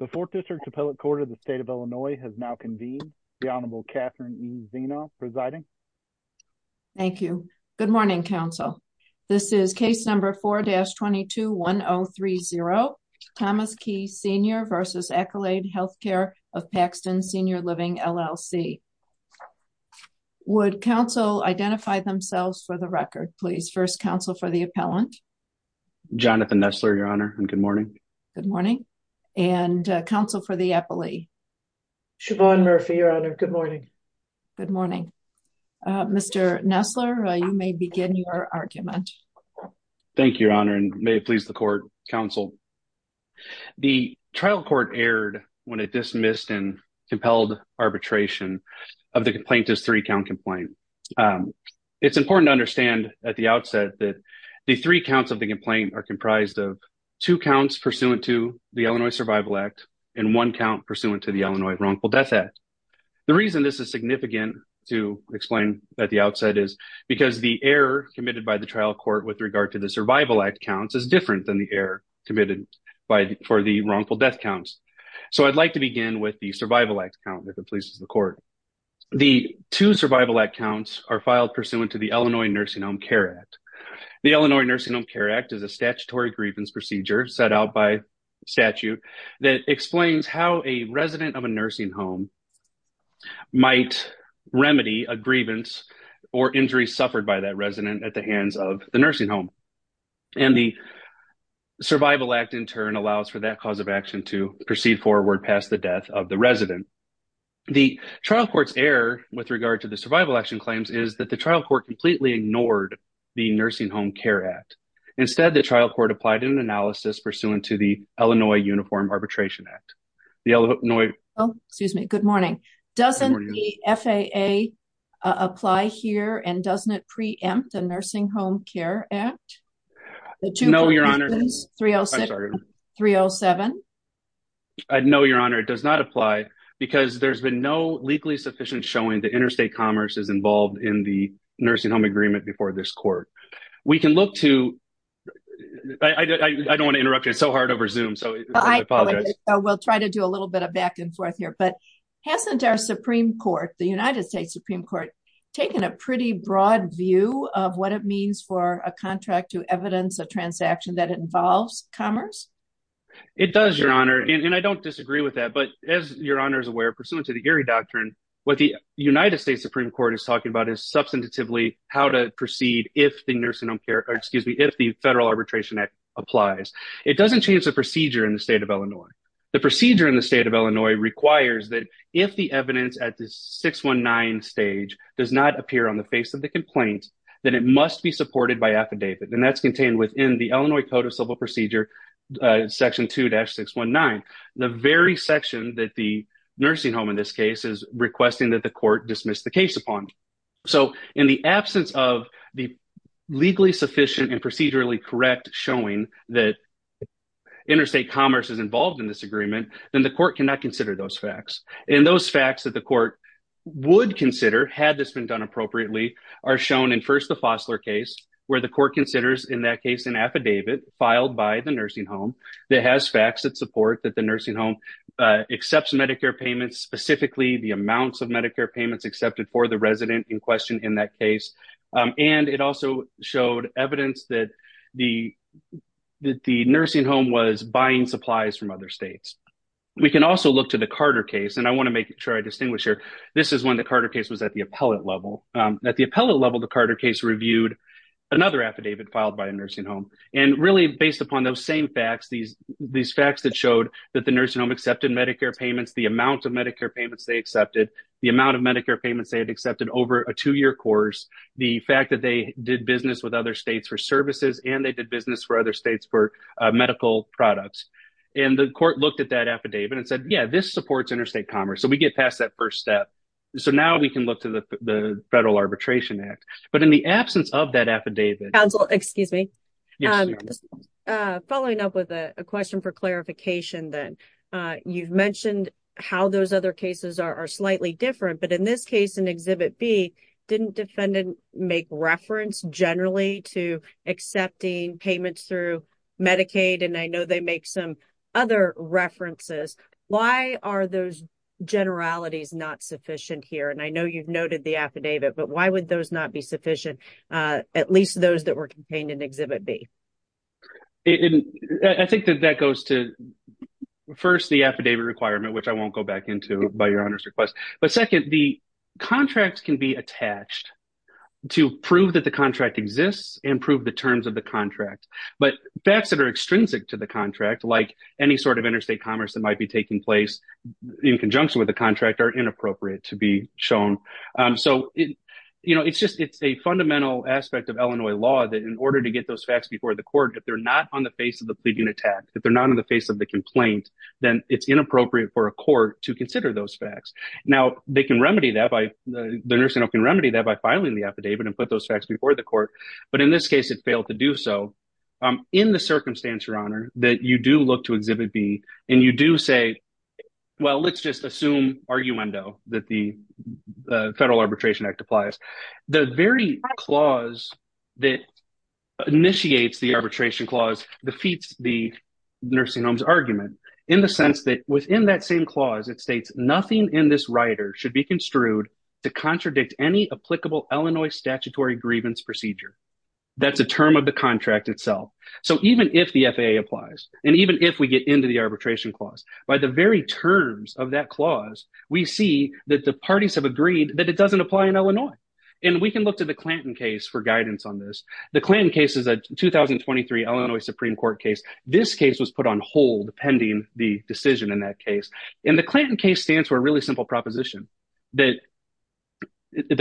The Fourth District Appellate Court of the State of Illinois has now convened. The Honorable Catherine E. Zeno presiding. Thank you. Good morning, counsel. This is case number 4-221030, Thomas Key Sr. v. Accolade Healthcare of Paxton Senior Living LLC. Would counsel identify themselves for the record, please? First counsel for the appellant. Jonathan Nestler, Your Honor, and good morning. Good morning. And counsel for the appellee. Siobhan Murphy, Your Honor, good morning. Good morning. Mr. Nestler, you may begin your argument. Thank you, Your Honor, and may it please the court, counsel. The trial court erred when it dismissed and compelled arbitration of the complaint as three-count complaint. It's important to understand at the outset that the three counts of the complaint are pursuant to the Illinois Survival Act and one count pursuant to the Illinois Wrongful Death Act. The reason this is significant to explain at the outset is because the error committed by the trial court with regard to the Survival Act counts is different than the error committed for the Wrongful Death Counts. So I'd like to begin with the Survival Act count, if it pleases the court. The two Survival Act counts are filed pursuant to the Illinois Nursing Home Care Act. The Illinois Nursing Home Care Act is a statutory grievance procedure set out by statute that explains how a resident of a nursing home might remedy a grievance or injury suffered by that resident at the hands of the nursing home. And the Survival Act, in turn, allows for that cause of action to proceed forward past the death of the resident. The trial court's error with regard to the survival action claims is that the trial court completely ignored the Nursing Home Care Act. Instead, the trial court applied an analysis pursuant to the Illinois Uniform Arbitration Act. The Illinois... Oh, excuse me. Good morning. Doesn't the FAA apply here and doesn't it preempt the Nursing Home Care Act? No, Your Honor. The two points, please. 306... I'm sorry. 307. No, Your Honor. It does not apply because there's been no legally sufficient showing that interstate commerce is involved in the nursing home agreement before this court. We can look to... I don't want to interrupt you, it's so hard over Zoom, so I apologize. We'll try to do a little bit of back and forth here, but hasn't our Supreme Court, the United States Supreme Court, taken a pretty broad view of what it means for a contract to evidence a transaction that involves commerce? It does, Your Honor, and I don't disagree with that, but as Your Honor is aware, pursuant to the Erie Doctrine, what the United States Supreme Court is talking about is substantively how to proceed if the nursing home care, or excuse me, if the Federal Arbitration Act applies. It doesn't change the procedure in the state of Illinois. The procedure in the state of Illinois requires that if the evidence at the 619 stage does not appear on the face of the complaint, then it must be supported by affidavit, and that's contained within the Illinois Code of Civil Procedure, Section 2-619. The very section that the nursing home in this case is requesting that the court dismiss the case upon. So in the absence of the legally sufficient and procedurally correct showing that interstate commerce is involved in this agreement, then the court cannot consider those facts, and those facts that the court would consider had this been done appropriately are shown in first the Fossler case, where the court considers in that case an affidavit filed by the nursing home that has facts that support that the nursing home accepts Medicare payments, specifically the amounts of Medicare payments accepted for the resident in question in that case, and it also showed evidence that the nursing home was buying supplies from other states. We can also look to the Carter case, and I want to make sure I distinguish here. This is when the Carter case was at the appellate level. At the appellate level, the Carter case reviewed another affidavit filed by a nursing home, and really based upon those same facts, these facts that showed that the nursing home accepted Medicare payments, the amount of Medicare payments they accepted, the amount of Medicare payments they had accepted over a two-year course, the fact that they did business with other states for services, and they did business for other states for medical products, and the court looked at that affidavit and said, yeah, this supports interstate commerce, so we get past that first step. So now we can look to the Federal Arbitration Act, but in the absence of that affidavit counsel, excuse me, following up with a question for clarification, then. You've mentioned how those other cases are slightly different, but in this case in Exhibit B, didn't defendant make reference generally to accepting payments through Medicaid, and I know they make some other references. Why are those generalities not sufficient here? And I know you've noted the affidavit, but why would those not be sufficient? At least those that were contained in Exhibit B. I think that that goes to, first, the affidavit requirement, which I won't go back into by Your Honor's request. But second, the contract can be attached to prove that the contract exists and prove the terms of the contract. But facts that are extrinsic to the contract, like any sort of interstate commerce that might be taking place in conjunction with the contract, are inappropriate to be shown. So, you know, it's just it's a fundamental aspect of Illinois law that in order to get those facts before the court, if they're not on the face of the pleading attack, if they're not on the face of the complaint, then it's inappropriate for a court to consider those facts. Now, they can remedy that by, the nursing home can remedy that by filing the affidavit and put those facts before the court. But in this case, it failed to do so. In the circumstance, Your Honor, that you do look to Exhibit B, and you do say, well, let's just assume, arguendo, that the Federal Arbitration Act applies. The very clause that initiates the arbitration clause defeats the nursing home's argument in the sense that within that same clause, it states, nothing in this rider should be construed to contradict any applicable Illinois statutory grievance procedure. That's a term of the contract itself. So even if the FAA applies, and even if we get into the arbitration clause, by the very terms of that clause, we see that the parties have agreed that it doesn't apply in Illinois. And we can look to the Clanton case for guidance on this. The Clanton case is a 2023 Illinois Supreme Court case. This case was put on hold pending the decision in that case. And the Clanton case stands for a really simple proposition. The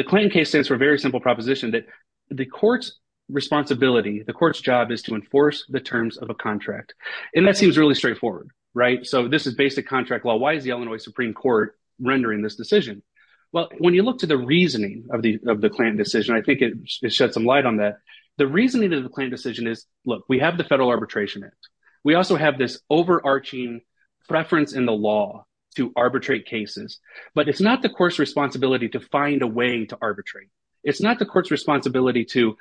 Clanton case stands for a very simple proposition that the court's responsibility, the court's job is to enforce the terms of a contract. And that seems really straightforward, right? So this is basic contract law. Why is the Illinois Supreme Court rendering this decision? Well, when you look to the reasoning of the Clanton decision, I think it sheds some light on that. The reasoning of the Clanton decision is, look, we have the Federal Arbitration Act. We also have this overarching preference in the law to arbitrate cases. But it's not the court's responsibility to find a way to arbitrate. It's not the court's responsibility to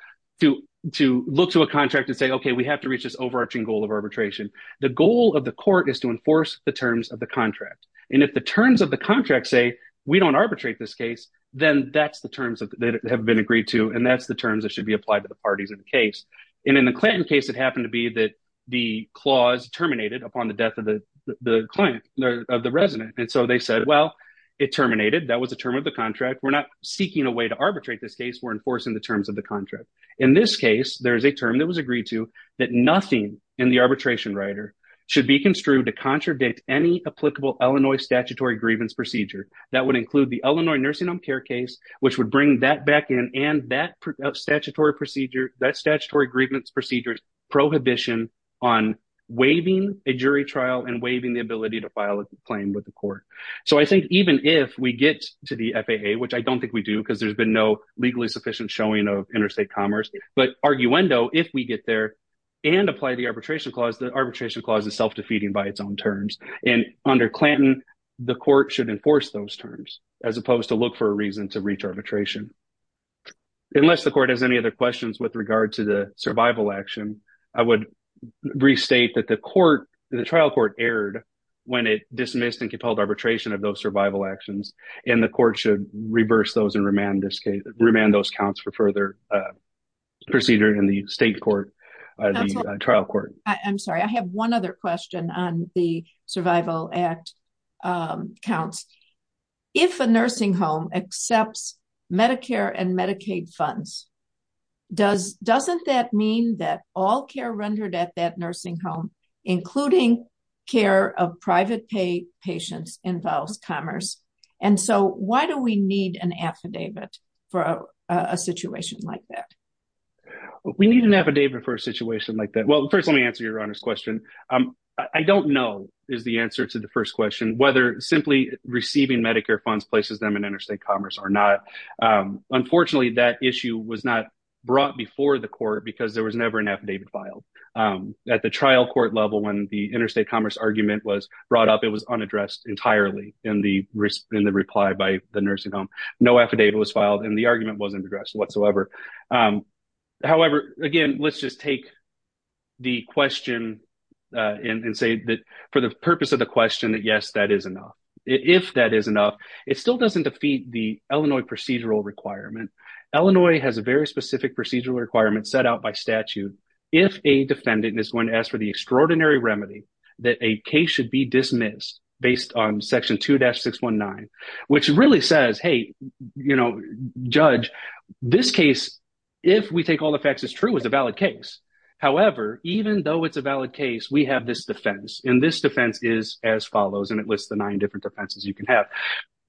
look to a contract and say, okay, we have to reach this overarching goal of arbitration. The goal of the court is to enforce the terms of the contract. And if the terms of the contract say, we don't arbitrate this case, then that's the terms that have been agreed to, and that's the terms that should be applied to the parties in the case. And in the Clanton case, it happened to be that the clause terminated upon the death of the client, of the resident. And so they said, well, it terminated. That was the term of the contract. We're not seeking a way to arbitrate this case. We're enforcing the terms of the contract. In this case, there is a term that was agreed to that nothing in the arbitration rider should be construed to contradict any applicable Illinois statutory grievance procedure. That would include the Illinois nursing home care case, which would bring that back in and that statutory procedure, that statutory grievance procedure prohibition on waiving a jury trial and waiving the ability to file a claim with the court. So I think even if we get to the FAA, which I don't think we do because there's been no legally sufficient showing of interstate commerce, but arguendo, if we get there and apply the arbitration clause, the arbitration clause is self-defeating by its own terms. And under Clanton, the court should enforce those terms as opposed to look for a reason to reach arbitration. Unless the court has any other questions with regard to the survival action, I would restate that the court, the trial court erred when it dismissed and compelled arbitration of those survival actions and the court should reverse those and remand those counts for further procedure in the state court, the trial court. I'm sorry. I have one other question on the survival act counts. If a nursing home accepts Medicare and Medicaid funds, doesn't that mean that all care rendered at that nursing home, including care of private pay patients involves commerce? And so why do we need an affidavit for a situation like that? We need an affidavit for a situation like that. Well, first, let me answer your Honor's question. I don't know is the answer to the first question, whether simply receiving Medicare funds places them in interstate commerce or not. Unfortunately, that issue was not brought before the court because there was never an at the trial court level when the interstate commerce argument was brought up, it was unaddressed entirely in the in the reply by the nursing home. No affidavit was filed and the argument wasn't addressed whatsoever. However, again, let's just take the question and say that for the purpose of the question that yes, that is enough. If that is enough, it still doesn't defeat the Illinois procedural requirement. Illinois has a very specific procedural requirement set out by statute. If a defendant is going to ask for the extraordinary remedy that a case should be dismissed based on Section 2-619, which really says, hey, you know, Judge, this case, if we take all the facts as true is a valid case. However, even though it's a valid case, we have this defense and this defense is as follows and it lists the nine different defenses you can have.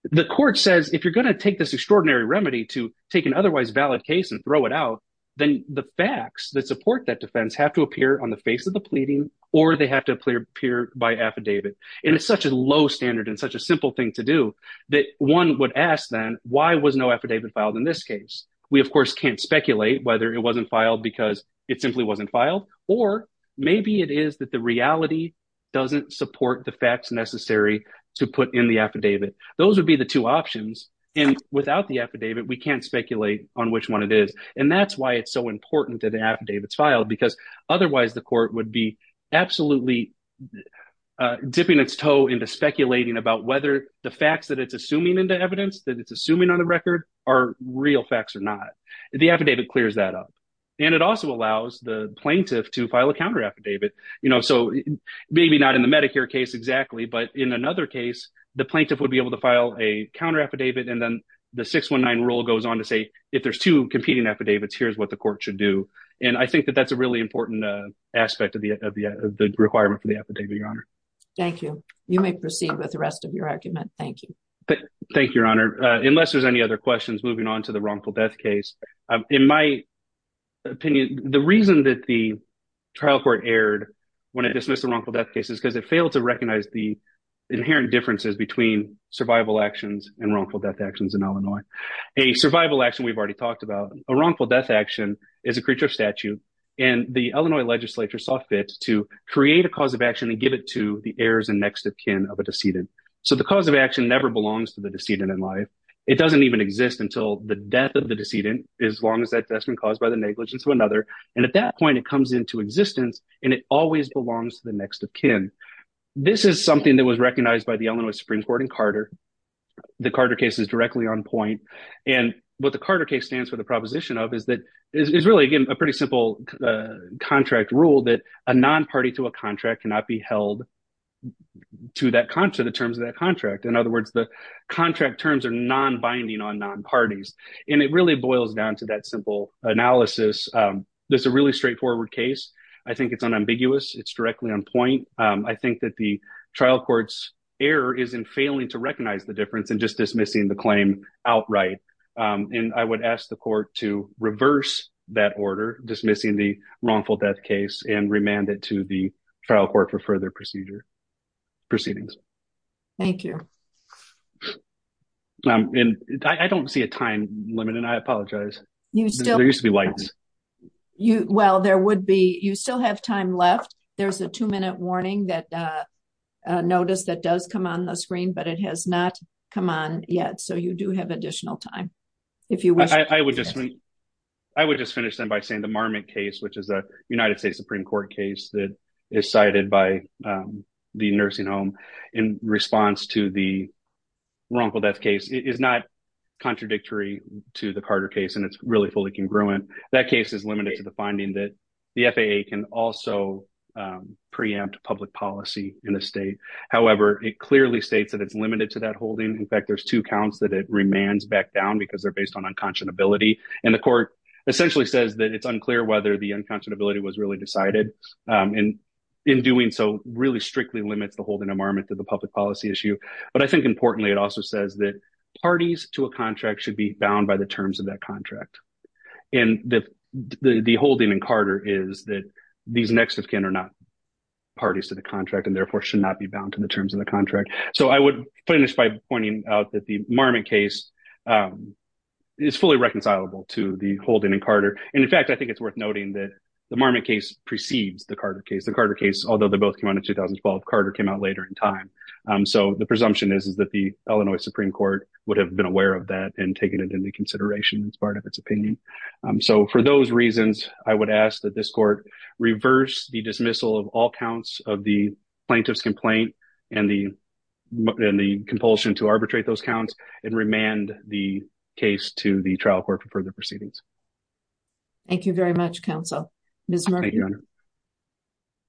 The court says, if you're going to take this extraordinary remedy to take an otherwise valid case and throw it out, then the facts that support that defense have to appear on the face of the pleading or they have to appear by affidavit. And it's such a low standard and such a simple thing to do that one would ask then why was no affidavit filed in this case? We of course can't speculate whether it wasn't filed because it simply wasn't filed or maybe it is that the reality doesn't support the facts necessary to put in the affidavit. Those would be the two options and without the affidavit, we can't speculate on which one it is. And that's why it's so important that an affidavit is filed because otherwise the court would be absolutely dipping its toe into speculating about whether the facts that it's assuming into evidence that it's assuming on the record are real facts or not. The affidavit clears that up. And it also allows the plaintiff to file a counter affidavit, you know, so maybe not in the Medicare case exactly, but in another case, the plaintiff would be able to file a counter affidavit and then the 619 rule goes on to say, if there's two competing affidavits, here's what the court should do. And I think that that's a really important aspect of the requirement for the affidavit, Your Honor. Thank you. You may proceed with the rest of your argument. Thank you. Thank you, Your Honor. Unless there's any other questions moving on to the wrongful death case. In my opinion, the reason that the trial court erred when it dismissed the wrongful death case is because it failed to recognize the inherent differences between survival actions and wrongful death actions in Illinois. A survival action we've already talked about, a wrongful death action is a creature of statute and the Illinois legislature saw fit to create a cause of action and give it to the heirs and next of kin of a decedent. So the cause of action never belongs to the decedent in life. It doesn't even exist until the death of the decedent, as long as that's been caused by the negligence of another. And at that point, it comes into existence and it always belongs to the next of kin. This is something that was recognized by the Illinois Supreme Court in Carter. The Carter case is directly on point. And what the Carter case stands for the proposition of is that it's really, again, a pretty simple contract rule that a non-party to a contract cannot be held to the terms of that contract. In other words, the contract terms are non-binding on non-parties and it really boils down to that simple analysis. That's a really straightforward case. I think it's unambiguous. It's directly on point. I think that the trial court's error is in failing to recognize the difference and just dismissing the claim outright. And I would ask the court to reverse that order, dismissing the wrongful death case and remand it to the trial court for further procedure proceedings. Thank you. I don't see a time limit and I apologize. There used to be lights. Well, there would be. You still have time left. There's a two minute warning that notice that does come on the screen, but it has not come on yet. So you do have additional time. I would just finish them by saying the Marmot case, which is a United States Supreme Court case that is cited by the nursing home in response to the wrongful death case, is not contradictory to the Carter case and it's really fully congruent. That case is limited to the finding that the FAA can also preempt public policy in the state. However, it clearly states that it's limited to that holding. In fact, there's two counts that it remands back down because they're based on unconscionability. And the court essentially says that it's unclear whether the unconscionability was really decided and in doing so really strictly limits the holding of Marmot to the public policy issue. But I think importantly, it also says that parties to a contract should be bound by the terms of that contract. And the holding in Carter is that these next of kin are not parties to the contract and therefore should not be bound to the terms of the contract. So I would finish by pointing out that the Marmot case is fully reconcilable to the holding in Carter. And in fact, I think it's worth noting that the Marmot case precedes the Carter case. The Carter case, although they both came out in 2012, Carter came out later in time. So the presumption is that the Illinois Supreme Court would have been aware of that and taken it into consideration as part of its opinion. So for those reasons, I would ask that this court reverse the dismissal of all counts of the plaintiff's complaint and the compulsion to arbitrate those counts and remand the case to the trial court for further proceedings. Thank you very much, counsel. Ms. Murphy.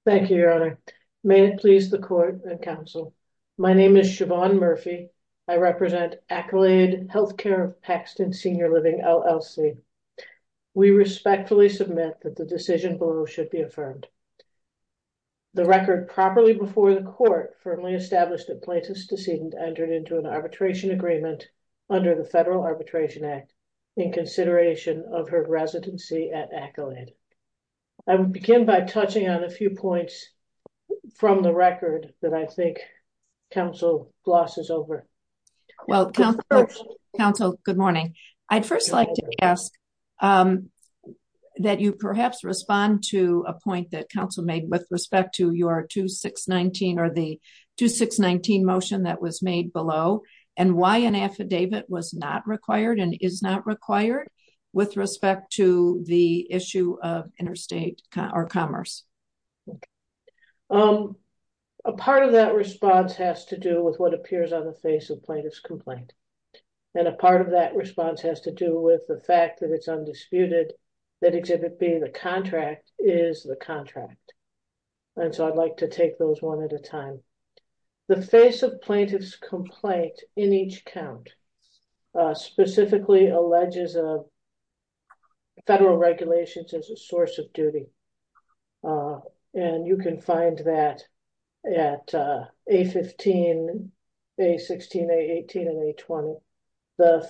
Thank you, Your Honor. May it please the court and counsel. My name is Siobhan Murphy. I represent Accolade Healthcare Paxton Senior Living LLC. We respectfully submit that the decision below should be affirmed. The record properly before the court firmly established that plaintiff's decedent entered into an arbitration agreement under the Federal Arbitration Act in consideration of her residency at Accolade. I will begin by touching on a few points from the record that I think counsel Floss is over. Well, counsel, good morning. I'd first like to ask that you perhaps respond to a point that counsel made with respect to your 2619 or the 2619 motion that was made below and why an affidavit was not required and is not required with respect to the issue of interstate commerce. A part of that response has to do with what appears on the face of plaintiff's complaint. And a part of that response has to do with the fact that it's undisputed that exhibit B, the contract, is the contract. And so I'd like to take those one at a time. The face of plaintiff's complaint in each count specifically alleges a federal regulations as a source of duty. And you can find that at A15, A16, A18, and A20. The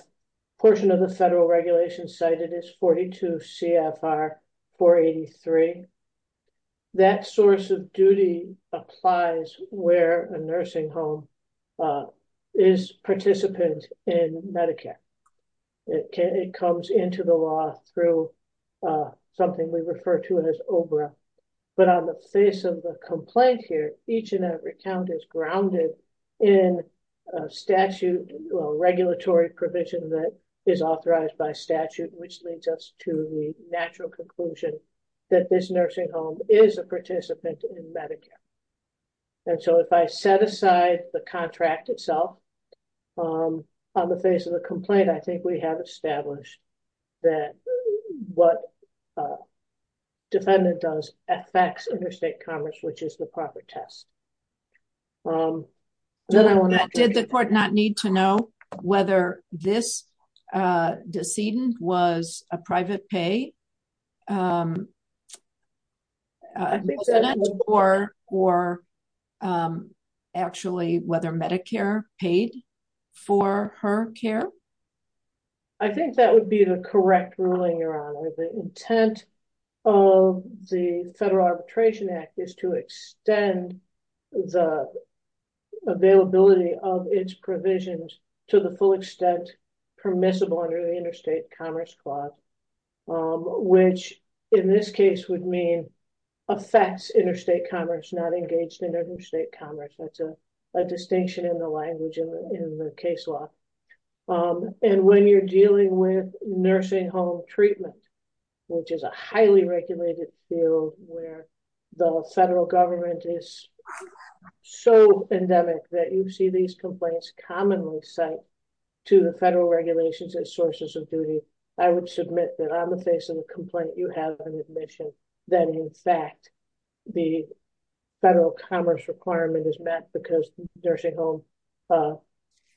portion of the federal regulation cited is 42 CFR 483. That source of duty applies where a nursing home is participant in Medicare. It comes into the law through something we refer to as OBRA. But on the face of the complaint here, each and every count is grounded in a statute, a regulatory provision that is authorized by statute, which leads us to the natural conclusion that this nursing home is a participant in Medicare. And so if I set aside the contract itself on the face of the complaint, I think we have established that what defendant does affects interstate commerce, which is the proper test. Did the court not need to know whether this decedent was a private pay? Or actually whether Medicare paid for her care? I think that would be the correct ruling, Your Honor. The intent of the Federal Arbitration Act is to extend the availability of its provisions to the full extent permissible under the Interstate Commerce Clause, which in this case would mean affects interstate commerce, not engaged in interstate commerce. That's a distinction in the language in the case law. And when you're dealing with nursing home treatment, which is a highly regulated field where the federal government is so endemic that you see these complaints commonly sent to the federal regulations as sources of duty, I would submit that on the face of the complaint, you have an admission that in fact, the federal commerce requirement is met because nursing home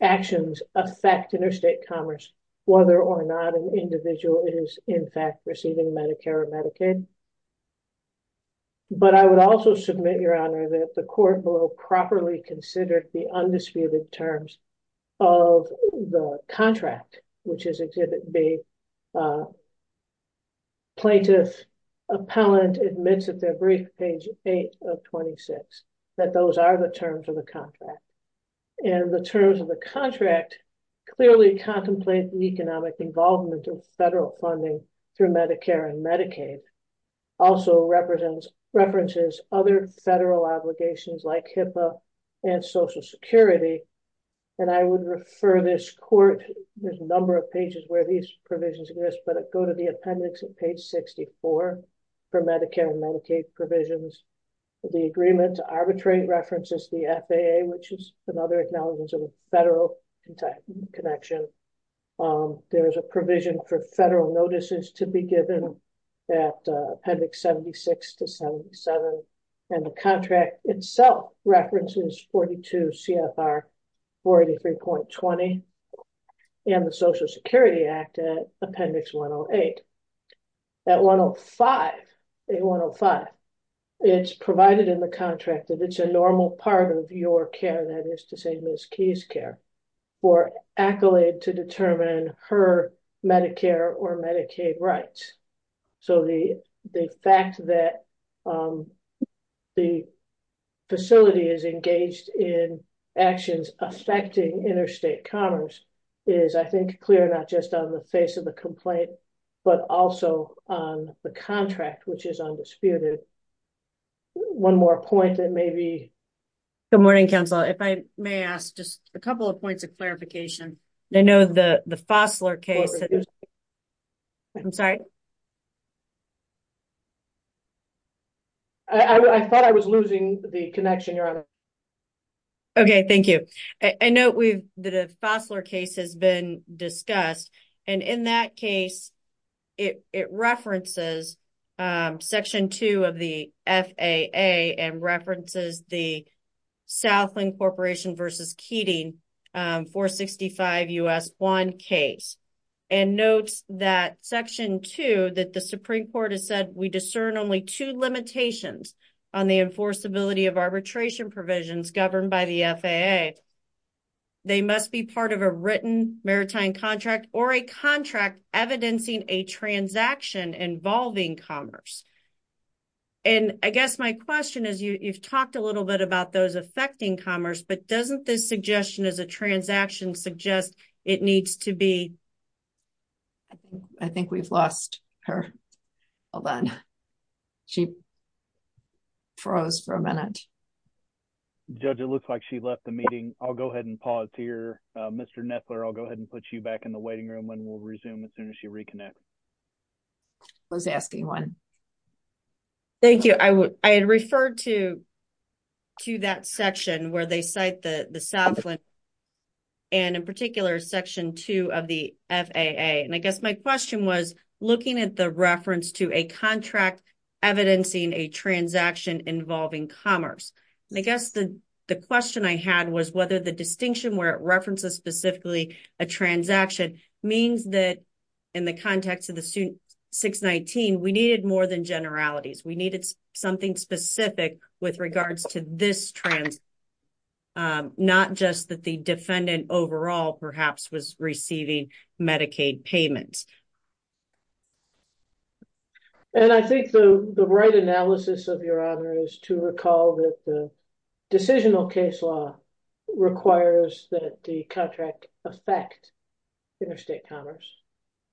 actions affect interstate commerce, whether or not an individual is in fact receiving Medicare or Medicaid. But I would also submit, Your Honor, that the court will properly consider the undisputed terms of the contract, which is Exhibit B. The plaintiff appellant admits at their brief, page 8 of 26, that those are the terms of the contract. And the terms of the contract clearly contemplate the economic involvement of federal funding through Medicare and Medicaid, also references other federal obligations like HIPAA and Social Security. And I would refer this court, there's a number of pages where these provisions exist, but it go to the appendix at page 64 for Medicare and Medicaid provisions. The agreement to arbitrate references the FAA, which is another acknowledgement of a federal connection. There is a provision for federal notices to be given at appendix 76 to 77. And the contract itself references 42 CFR 483.20. And the Social Security Act at appendix 108. At 105, it's provided in the contract that it's a normal part of your care, that is to say Ms. Keyes' care, for accolade to determine her Medicare or Medicaid rights. So the fact that the facility is engaged in actions affecting interstate commerce is I think clear, not just on the face of the complaint, but also on the contract, which is undisputed. One more point that maybe... Good morning, counsel. If I may ask just a couple of points of clarification. I know the Fossler case... I'm sorry. I thought I was losing the connection, Your Honor. Okay, thank you. I know the Fossler case has been discussed. And in that case, it references section two of the FAA and references the Southland Corporation versus Keating 465 U.S. 1 case. And notes that section two that the Supreme Court has said, we discern only two limitations on the enforceability of arbitration provisions governed by the FAA. They must be part of a written maritime contract or a contract evidencing a transaction involving commerce. And I guess my question is, you've talked a little bit about those affecting commerce, but doesn't this suggestion as a transaction suggest it needs to be... I think we've lost her. Hold on. She froze for a minute. Judge, it looks like she left the meeting. I'll go ahead and pause to hear Mr. Nettler. I'll go ahead and put you back in the waiting room and we'll resume as soon as she reconnects. I was asking one. Thank you. I had referred to that section where they cite the Southland and in particular, section two of the FAA. And I guess my question was looking at the reference to a contract evidencing a transaction involving commerce. And I guess the question I had was whether the distinction where it references specifically a transaction means that in the context of the 619, we needed more than generalities. We needed something specific with regards to this trans... Not just that the defendant overall perhaps was receiving Medicaid payments. And I think the right analysis of your honor is to recall that the decisional case law requires that the contract affect interstate commerce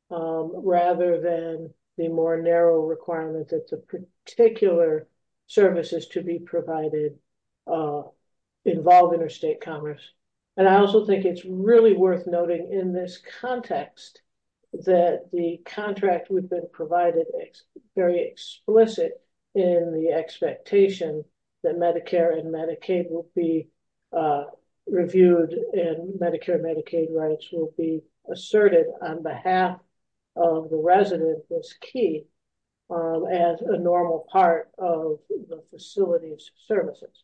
rather than the more narrow requirement that the particular services to be provided involve interstate commerce. And I also think it's really worth noting in this context that the contract we've been provided is very explicit in the expectation that Medicare and Medicaid will be reviewed and Medicare and Medicaid rights will be asserted on behalf of the resident that's key as a normal part of the facility's services.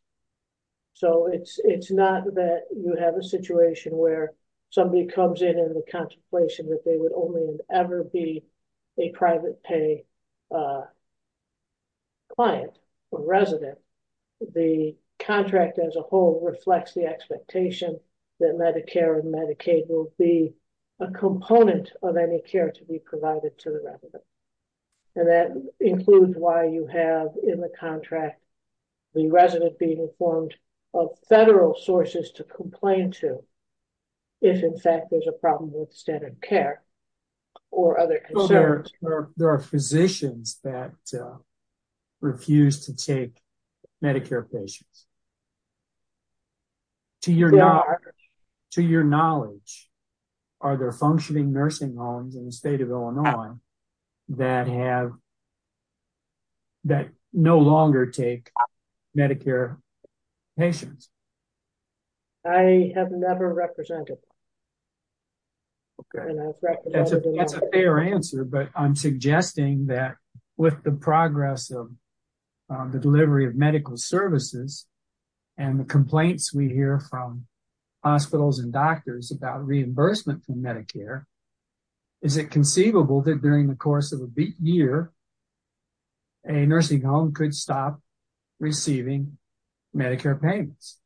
So it's not that you have a situation where somebody comes in with contemplation that they would only ever be a private pay client or resident. The contract as a whole reflects the expectation that Medicare and Medicaid will be a component of any care to be provided to the resident. And that includes why you have in the contract the resident being informed of federal sources to complain to if in fact there's a problem with standard care or other concerns. There are physicians that refuse to take Medicare patients. To your knowledge, are there functioning nursing homes in the state of Illinois that no longer take Medicare patients? I have never represented them. Okay, that's a fair answer. But I'm suggesting that with the progress of the delivery of medical services and the complaints we hear from hospitals and doctors about reimbursement from Medicare, is it conceivable that during the course of a year a nursing home could stop receiving Medicare payments?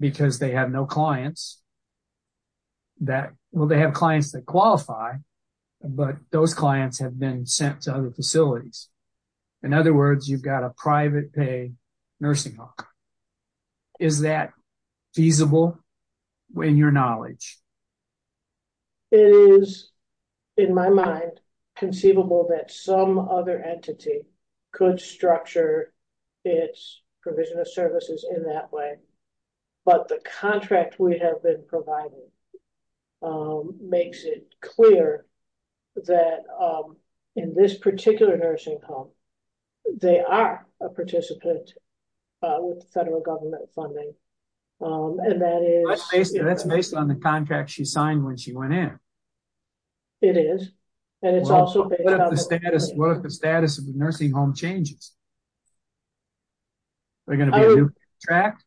Because they have no clients. They have clients that qualify, but those clients have been sent to other facilities. In other words, you've got a private pay nursing home. Is that feasible in your knowledge? It is, in my mind, conceivable that some other entity could structure its provision of services in that way. But the contract we have been providing makes it clear that in this particular nursing home they are a participant with federal government funding. That's based on the contract she signed when she went in. It is. What if the status of the nursing home changes? Is there going to be a new contract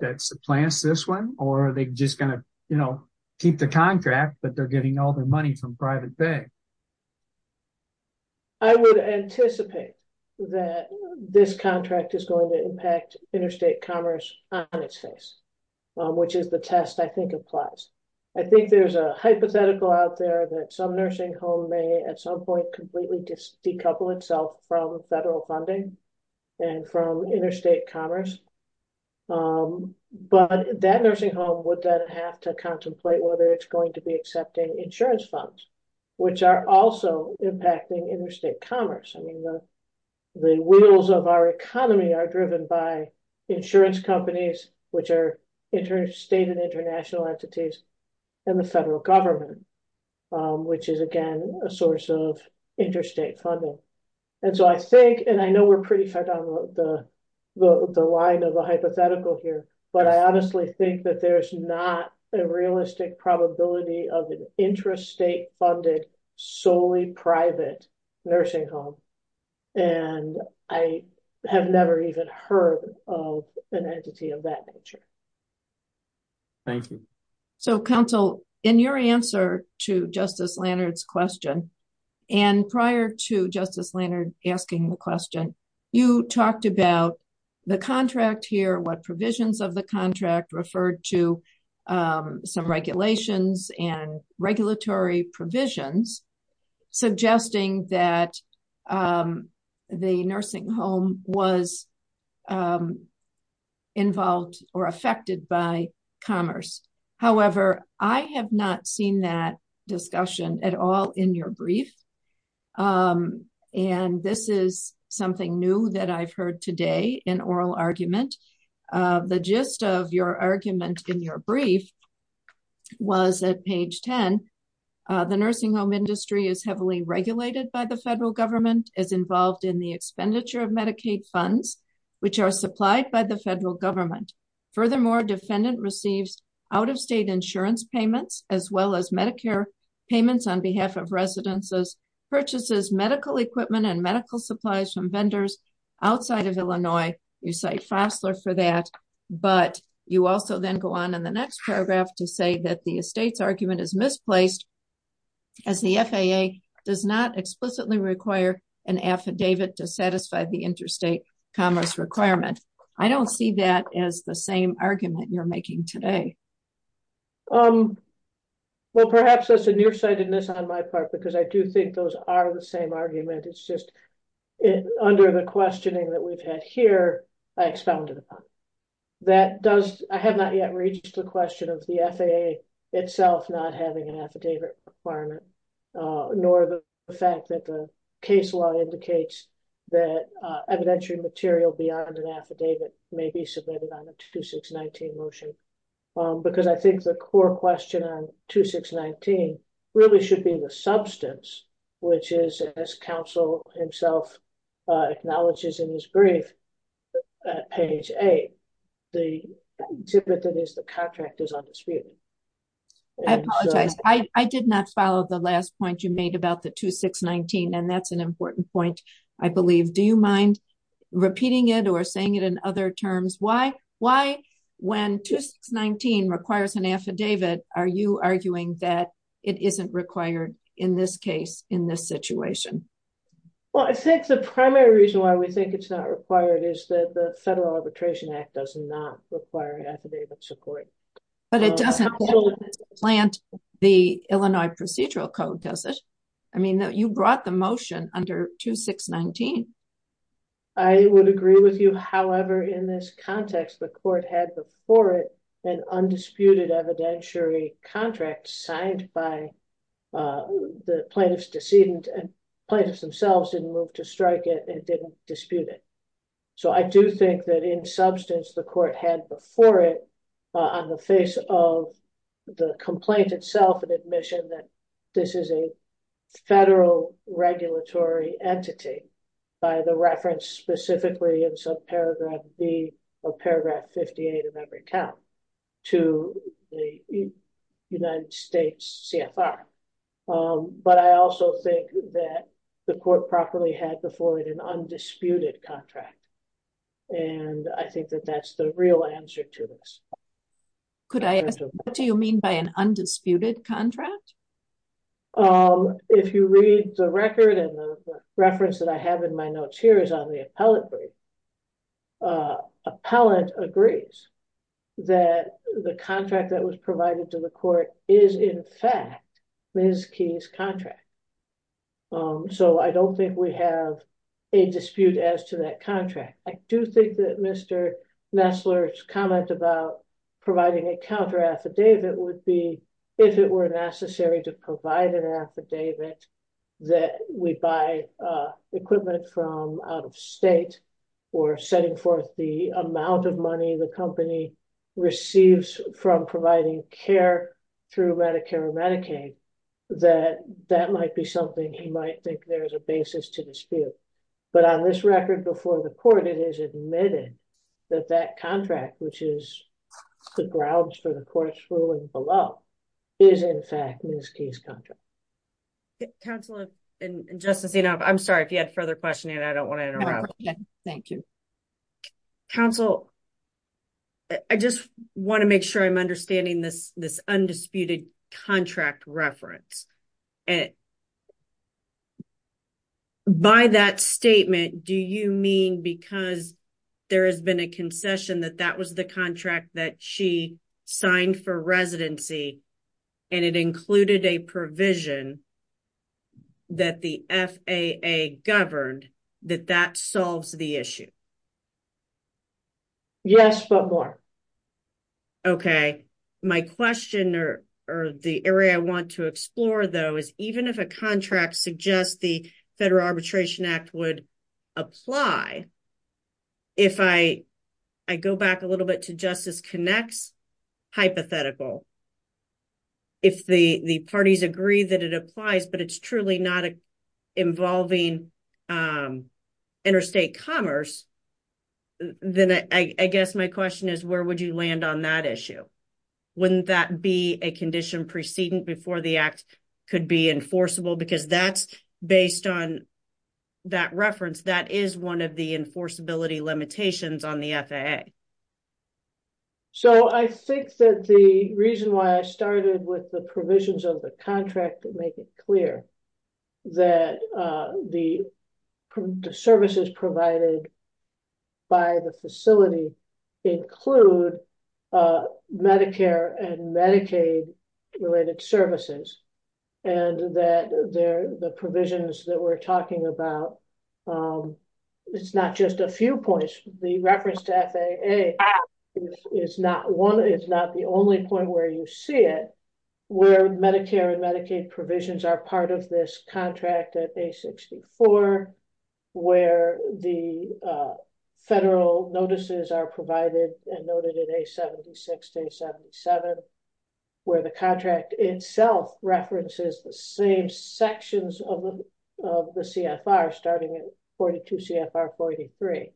that supplants this one? Or are they just going to keep the contract, but they're getting all their money from private pay? I would anticipate that this contract is going to impact interstate commerce on its face, which is the test I think applies. I think there's a hypothetical out there that some nursing home may at some point completely decouple itself from federal funding and from interstate commerce. But that nursing home would then have to contemplate whether it's going to be accepting insurance funds, which are also impacting interstate commerce. The wheels of our economy are driven by insurance companies, which are interstate and international entities, and the federal government, which is, again, a source of interstate funding. I know we're pretty fed up with the line of the hypothetical here, but I honestly think that there's not a realistic probability of an interstate-funded, solely private nursing home. I have never even heard of an entity of that nature. Thank you. Counsel, in your answer to Justice Lannard's question, and prior to Justice Lannard asking the question, you talked about the contract here, what provisions of the contract referred to some regulations and regulatory provisions suggesting that the nursing home was involved or affected by commerce. However, I have not seen that discussion at all in your brief. This is something new that I've heard today in oral argument. The gist of your argument in your brief was at page 10. The nursing home industry is heavily regulated by the federal government, is involved in the expenditure of Medicaid funds, which are supplied by the federal government. Furthermore, defendant receives out-of-state insurance payments, as well as Medicare payments on behalf of residences, purchases medical equipment and medical supplies from vendors outside of Illinois. You cite Fosler for that, but you also then go on in the next paragraph to say that the estate's argument is misplaced as the FAA does not explicitly require an affidavit to satisfy the interstate commerce requirement. I don't see that as the same argument you're making today. Well, perhaps that's a nearsightedness on my part, because I do think those are the same argument. It's just under the questioning that we've had here, I expounded upon it. I have not yet reached the question of the FAA itself not having an affidavit requirement, nor the fact that the case law indicates that evidentiary material beyond an affidavit may be submitted on a 2619 motion. Because I think the core question on 2619 really should be the substance, which is as counsel himself acknowledges in his brief at page eight, the exhibit that is the contract is undisputed. I apologize. I did not follow the last point you made about the 2619, and that's an important point, I believe. Do you mind repeating it or saying it in other terms? Why, when 2619 requires an affidavit, are you arguing that it isn't required in this case, in this situation? Well, I think the primary reason why we think it's not required is that the Federal Arbitration Act does not require affidavit support. But it doesn't plant the Illinois Procedural Code, does it? I mean, you brought the motion under 2619. I would agree with you. However, in this context, the court had before it an undisputed evidentiary contract signed by the plaintiff's decedent, and plaintiffs themselves didn't move to strike it and didn't dispute it. So I do think that in substance, the court had before it, on the face of the complaint itself, an admission that this is a federal regulatory entity by the reference specifically in subparagraph B of paragraph 58 of every count to the United States CFR. But I also think that the court properly had before it an undisputed contract. And I think that that's the real answer to this. Could I ask, what do you mean by an undisputed contract? If you read the record and the reference that I have in my notes here is on the appellate brief. Appellant agrees that the contract that was provided to the court is in fact Ms. Key's contract. So I don't think we have a dispute as to that contract. I do think that Mr. Nestler's comment about providing a counter affidavit would be if it were necessary to provide an affidavit that we buy equipment from out of state or setting forth the amount of money the company receives from providing care through Medicare or Medicaid that that might be something he might think there's a basis to dispute. But on this record before the court, it is admitted that that contract which is the grounds for the court's ruling below is in fact Ms. Key's contract. Counselor and Justice Zinov, I'm sorry if you had further questioning. I don't want to interrupt. Thank you. Counsel, I just want to make sure I'm understanding this undisputed contract reference. By that statement, do you mean because there has been a concession that that was the contract that she signed for residency and it included a provision that the FAA governed that that solves the issue? Yes, but more. Okay. My question or the area I want to explore though is even if a contract suggests the Federal Arbitration Act would apply, if I go back a little bit to Justice Connex hypothetical, if the parties agree that it applies but it's truly not involving interstate commerce, then I guess my question is where would you land on that issue? Wouldn't that be a condition preceding before the act could be enforceable because that's based on that reference. That is one of the enforceability limitations on the FAA. So I think that the reason why I started with the provisions of the contract make it clear that the services provided by the facility include Medicare and Medicaid related services and that the provisions that we're talking about, it's not just a few points. The reference to FAA is not the only point where you see it where Medicare and Medicaid provisions are part of this contract at A64, where the federal notices are provided and noted at A76 to A77, where the contract itself references the same sections of the CFR starting at 42 CFR 43,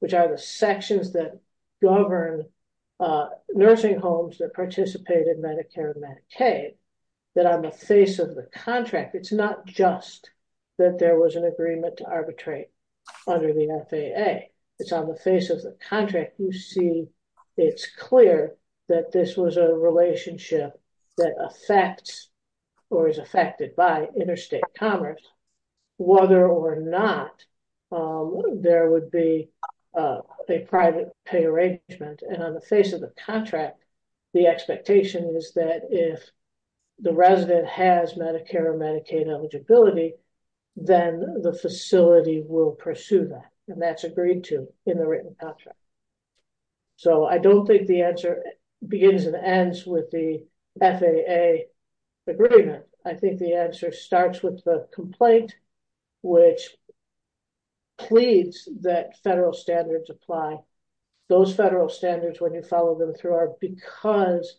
which are the sections that govern nursing homes that participate in Medicare and Medicaid. That on the face of the contract, it's not just that there was an agreement to arbitrate under the FAA. It's on the face of the contract, you see it's clear that this was a relationship that affects or is affected by interstate commerce, whether or not there would be a private pay arrangement. And on the face of the contract, the expectation is that if the resident has Medicare or Medicaid eligibility, then the facility will pursue that. And that's agreed to in the written contract. So I don't think the answer begins and ends with the FAA agreement. I think the answer starts with the complaint, which pleads that federal standards apply. Those federal standards, when you follow them through, are because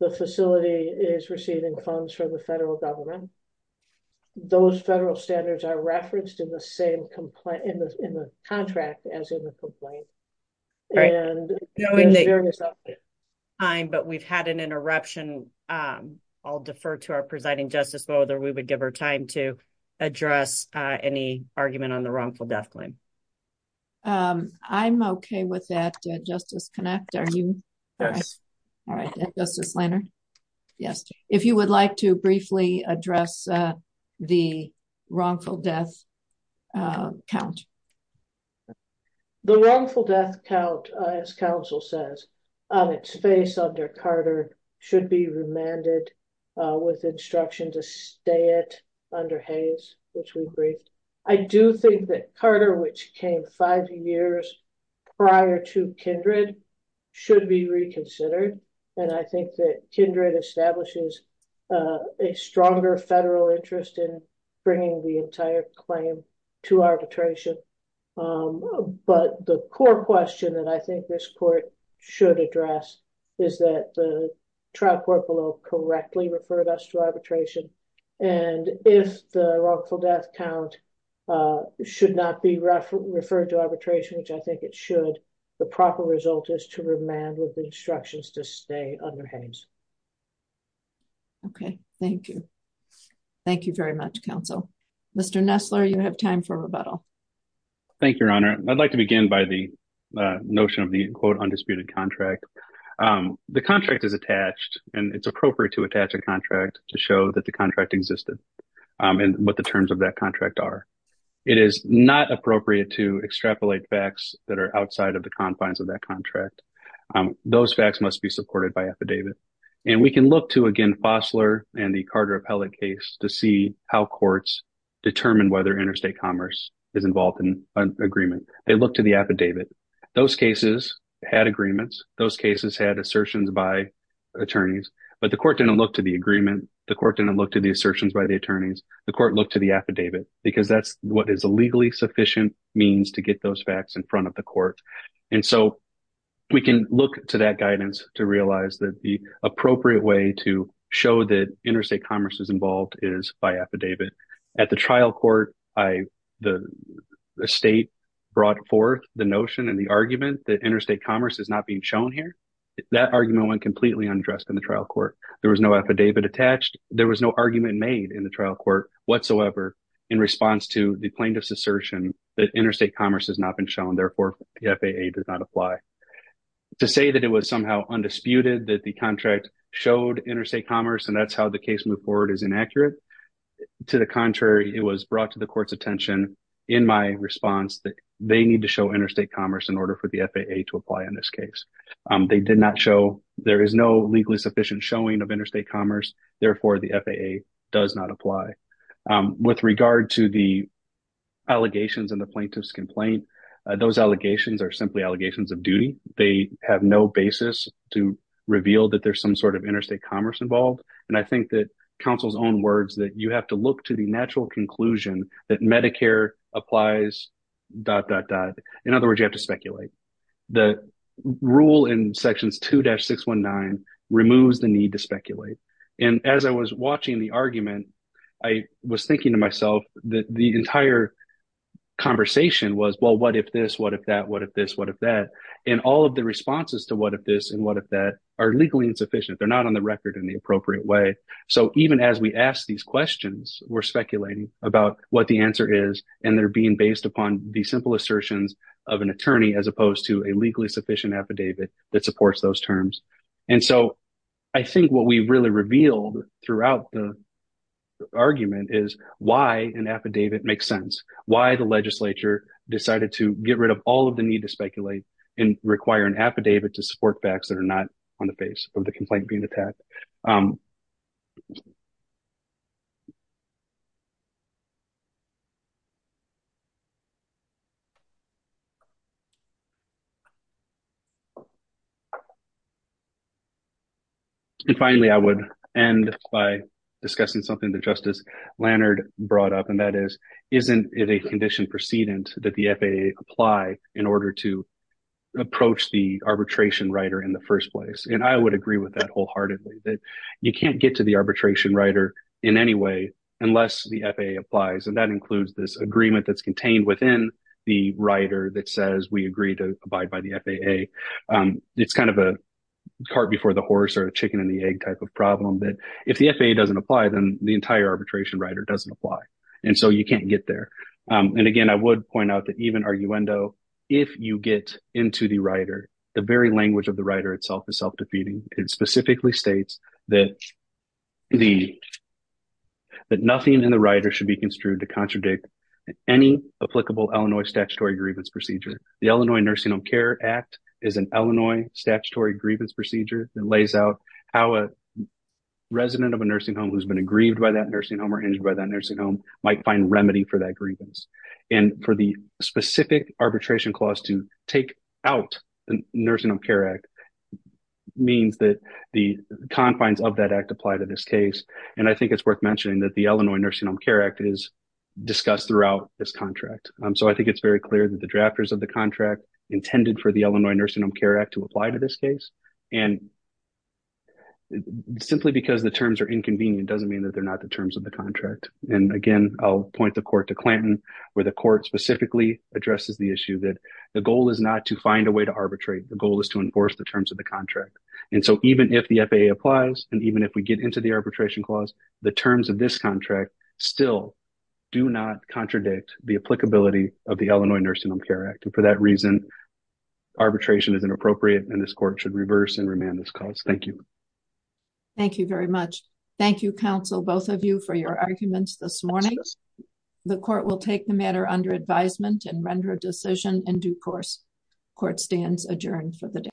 the facility is receiving funds from the federal government. Those federal standards are referenced in the same contract as in the complaint. We've had an interruption. I'll defer to our presiding justice, whether we would give her time to address any argument on the wrongful death claim. Um, I'm okay with that. Justice Connacht, are you? Yes. All right. Justice Lehner? Yes. If you would like to briefly address the wrongful death count. The wrongful death count, as counsel says, on its face under Carter should be remanded with instruction to stay it under Hays, which we briefed. I do think that Carter, which came five years prior to Kindred, should be reconsidered. And I think that Kindred establishes a stronger federal interest in bringing the entire claim to arbitration. But the core question that I think this court should address is that the trial court below correctly referred us to arbitration. And if the wrongful death count should not be referred to arbitration, which I think it should, the proper result is to remand with instructions to stay under Hays. Okay, thank you. Thank you very much, counsel. Mr. Nestler, you have time for rebuttal. Thank you, Your Honor. I'd like to begin by the notion of the quote, undisputed contract. The contract is attached and it's appropriate to attach a contract to show that the contract existed and what the terms of that contract are. It is not appropriate to extrapolate facts that are outside of the confines of that contract. Those facts must be supported by affidavit. And we can look to, again, Fossler and the Carter appellate case to see how courts determine whether interstate commerce is involved in an agreement. They look to the affidavit. Those cases had agreements. Those cases had assertions by attorneys. But the court didn't look to the agreement. The court didn't look to the assertions by the attorneys. The court looked to the affidavit because that's what is a legally sufficient means to get those facts in front of the court. And so we can look to that guidance to realize that the appropriate way to show that interstate commerce is involved is by affidavit. At the trial court, the state brought forth the notion and the argument that interstate commerce is not being shown here. That argument went completely undressed in the trial court. There was no affidavit attached. There was no argument made in the trial court whatsoever in response to the plaintiff's assertion that interstate commerce has not been shown. Therefore, the FAA does not apply. To say that it was somehow undisputed that the contract showed interstate commerce and that's how the case moved forward is inaccurate. To the contrary, it was brought to the court's attention in my response that they need to show interstate commerce in order for the FAA to apply in this case. They did not show there is no legally sufficient showing of interstate commerce. Therefore, the FAA does not apply. With regard to the allegations and the plaintiff's complaint, those allegations are simply allegations of duty. They have no basis to reveal that there's some sort of interstate commerce involved. And I think that counsel's own words that you have to look to the natural conclusion that Medicare applies, dot, dot, dot. In other words, you have to speculate. The rule in sections 2-619 removes the need to speculate. And as I was watching the argument, I was thinking to myself that the entire conversation was, well, what if this, what if that, what if this, what if that? And all of the responses to what if this and what if that are legally insufficient. They're not on the record in the appropriate way. So even as we ask these questions, we're speculating about what the answer is. And they're being based upon the simple assertions of an attorney, as opposed to a legally sufficient affidavit that supports those terms. And so I think what we've really revealed throughout the argument is why an affidavit makes sense, why the legislature decided to get rid of all of the need to speculate and require an affidavit to support facts that are not on the face of the complaint being brought up. And finally, I would end by discussing something that Justice Lannard brought up, and that is, isn't it a condition precedent that the FAA apply in order to approach the arbitration writer in the first place? And I would agree with that wholeheartedly, that you can't get to the arbitration writer in any way unless the FAA applies. And that includes this agreement that's contained within the writer that says we agree to abide by the FAA. It's kind of a cart before the horse or a chicken and the egg type of problem that if the FAA doesn't apply, then the entire arbitration writer doesn't apply. And so you can't get there. And again, I would point out that even arguendo, if you get into the writer, the very language of the writer itself is self-defeating. It specifically states that nothing in the writer should be construed to contradict any applicable Illinois statutory grievance procedure. The Illinois Nursing Home Care Act is an Illinois statutory grievance procedure that lays out how a resident of a nursing home who's been aggrieved by that nursing home or injured by that nursing home might find remedy for that grievance. And for the specific arbitration clause to take out the Nursing Home Care Act means that the confines of that act apply to this case. And I think it's worth mentioning that the Illinois Nursing Home Care Act is discussed throughout this contract. So I think it's very clear that the drafters of the contract intended for the Illinois Nursing Home Care Act to apply to this case. And simply because the terms are inconvenient doesn't mean that they're not the terms of the contract. And again, I'll point the court to Clanton where the court specifically addresses the issue that the goal is not to find a way to arbitrate. The goal is to enforce the terms of the contract. And so even if the FAA applies, and even if we get into the arbitration clause, the terms of this contract still do not contradict the applicability of the Illinois Nursing Home Care Act. And for that reason, arbitration is inappropriate and this court should reverse and remand this clause. Thank you. Thank you very much. Thank you, counsel, both of you for your arguments this morning. The court will take the matter under advisement and render a decision in due course. Court stands adjourned for the day.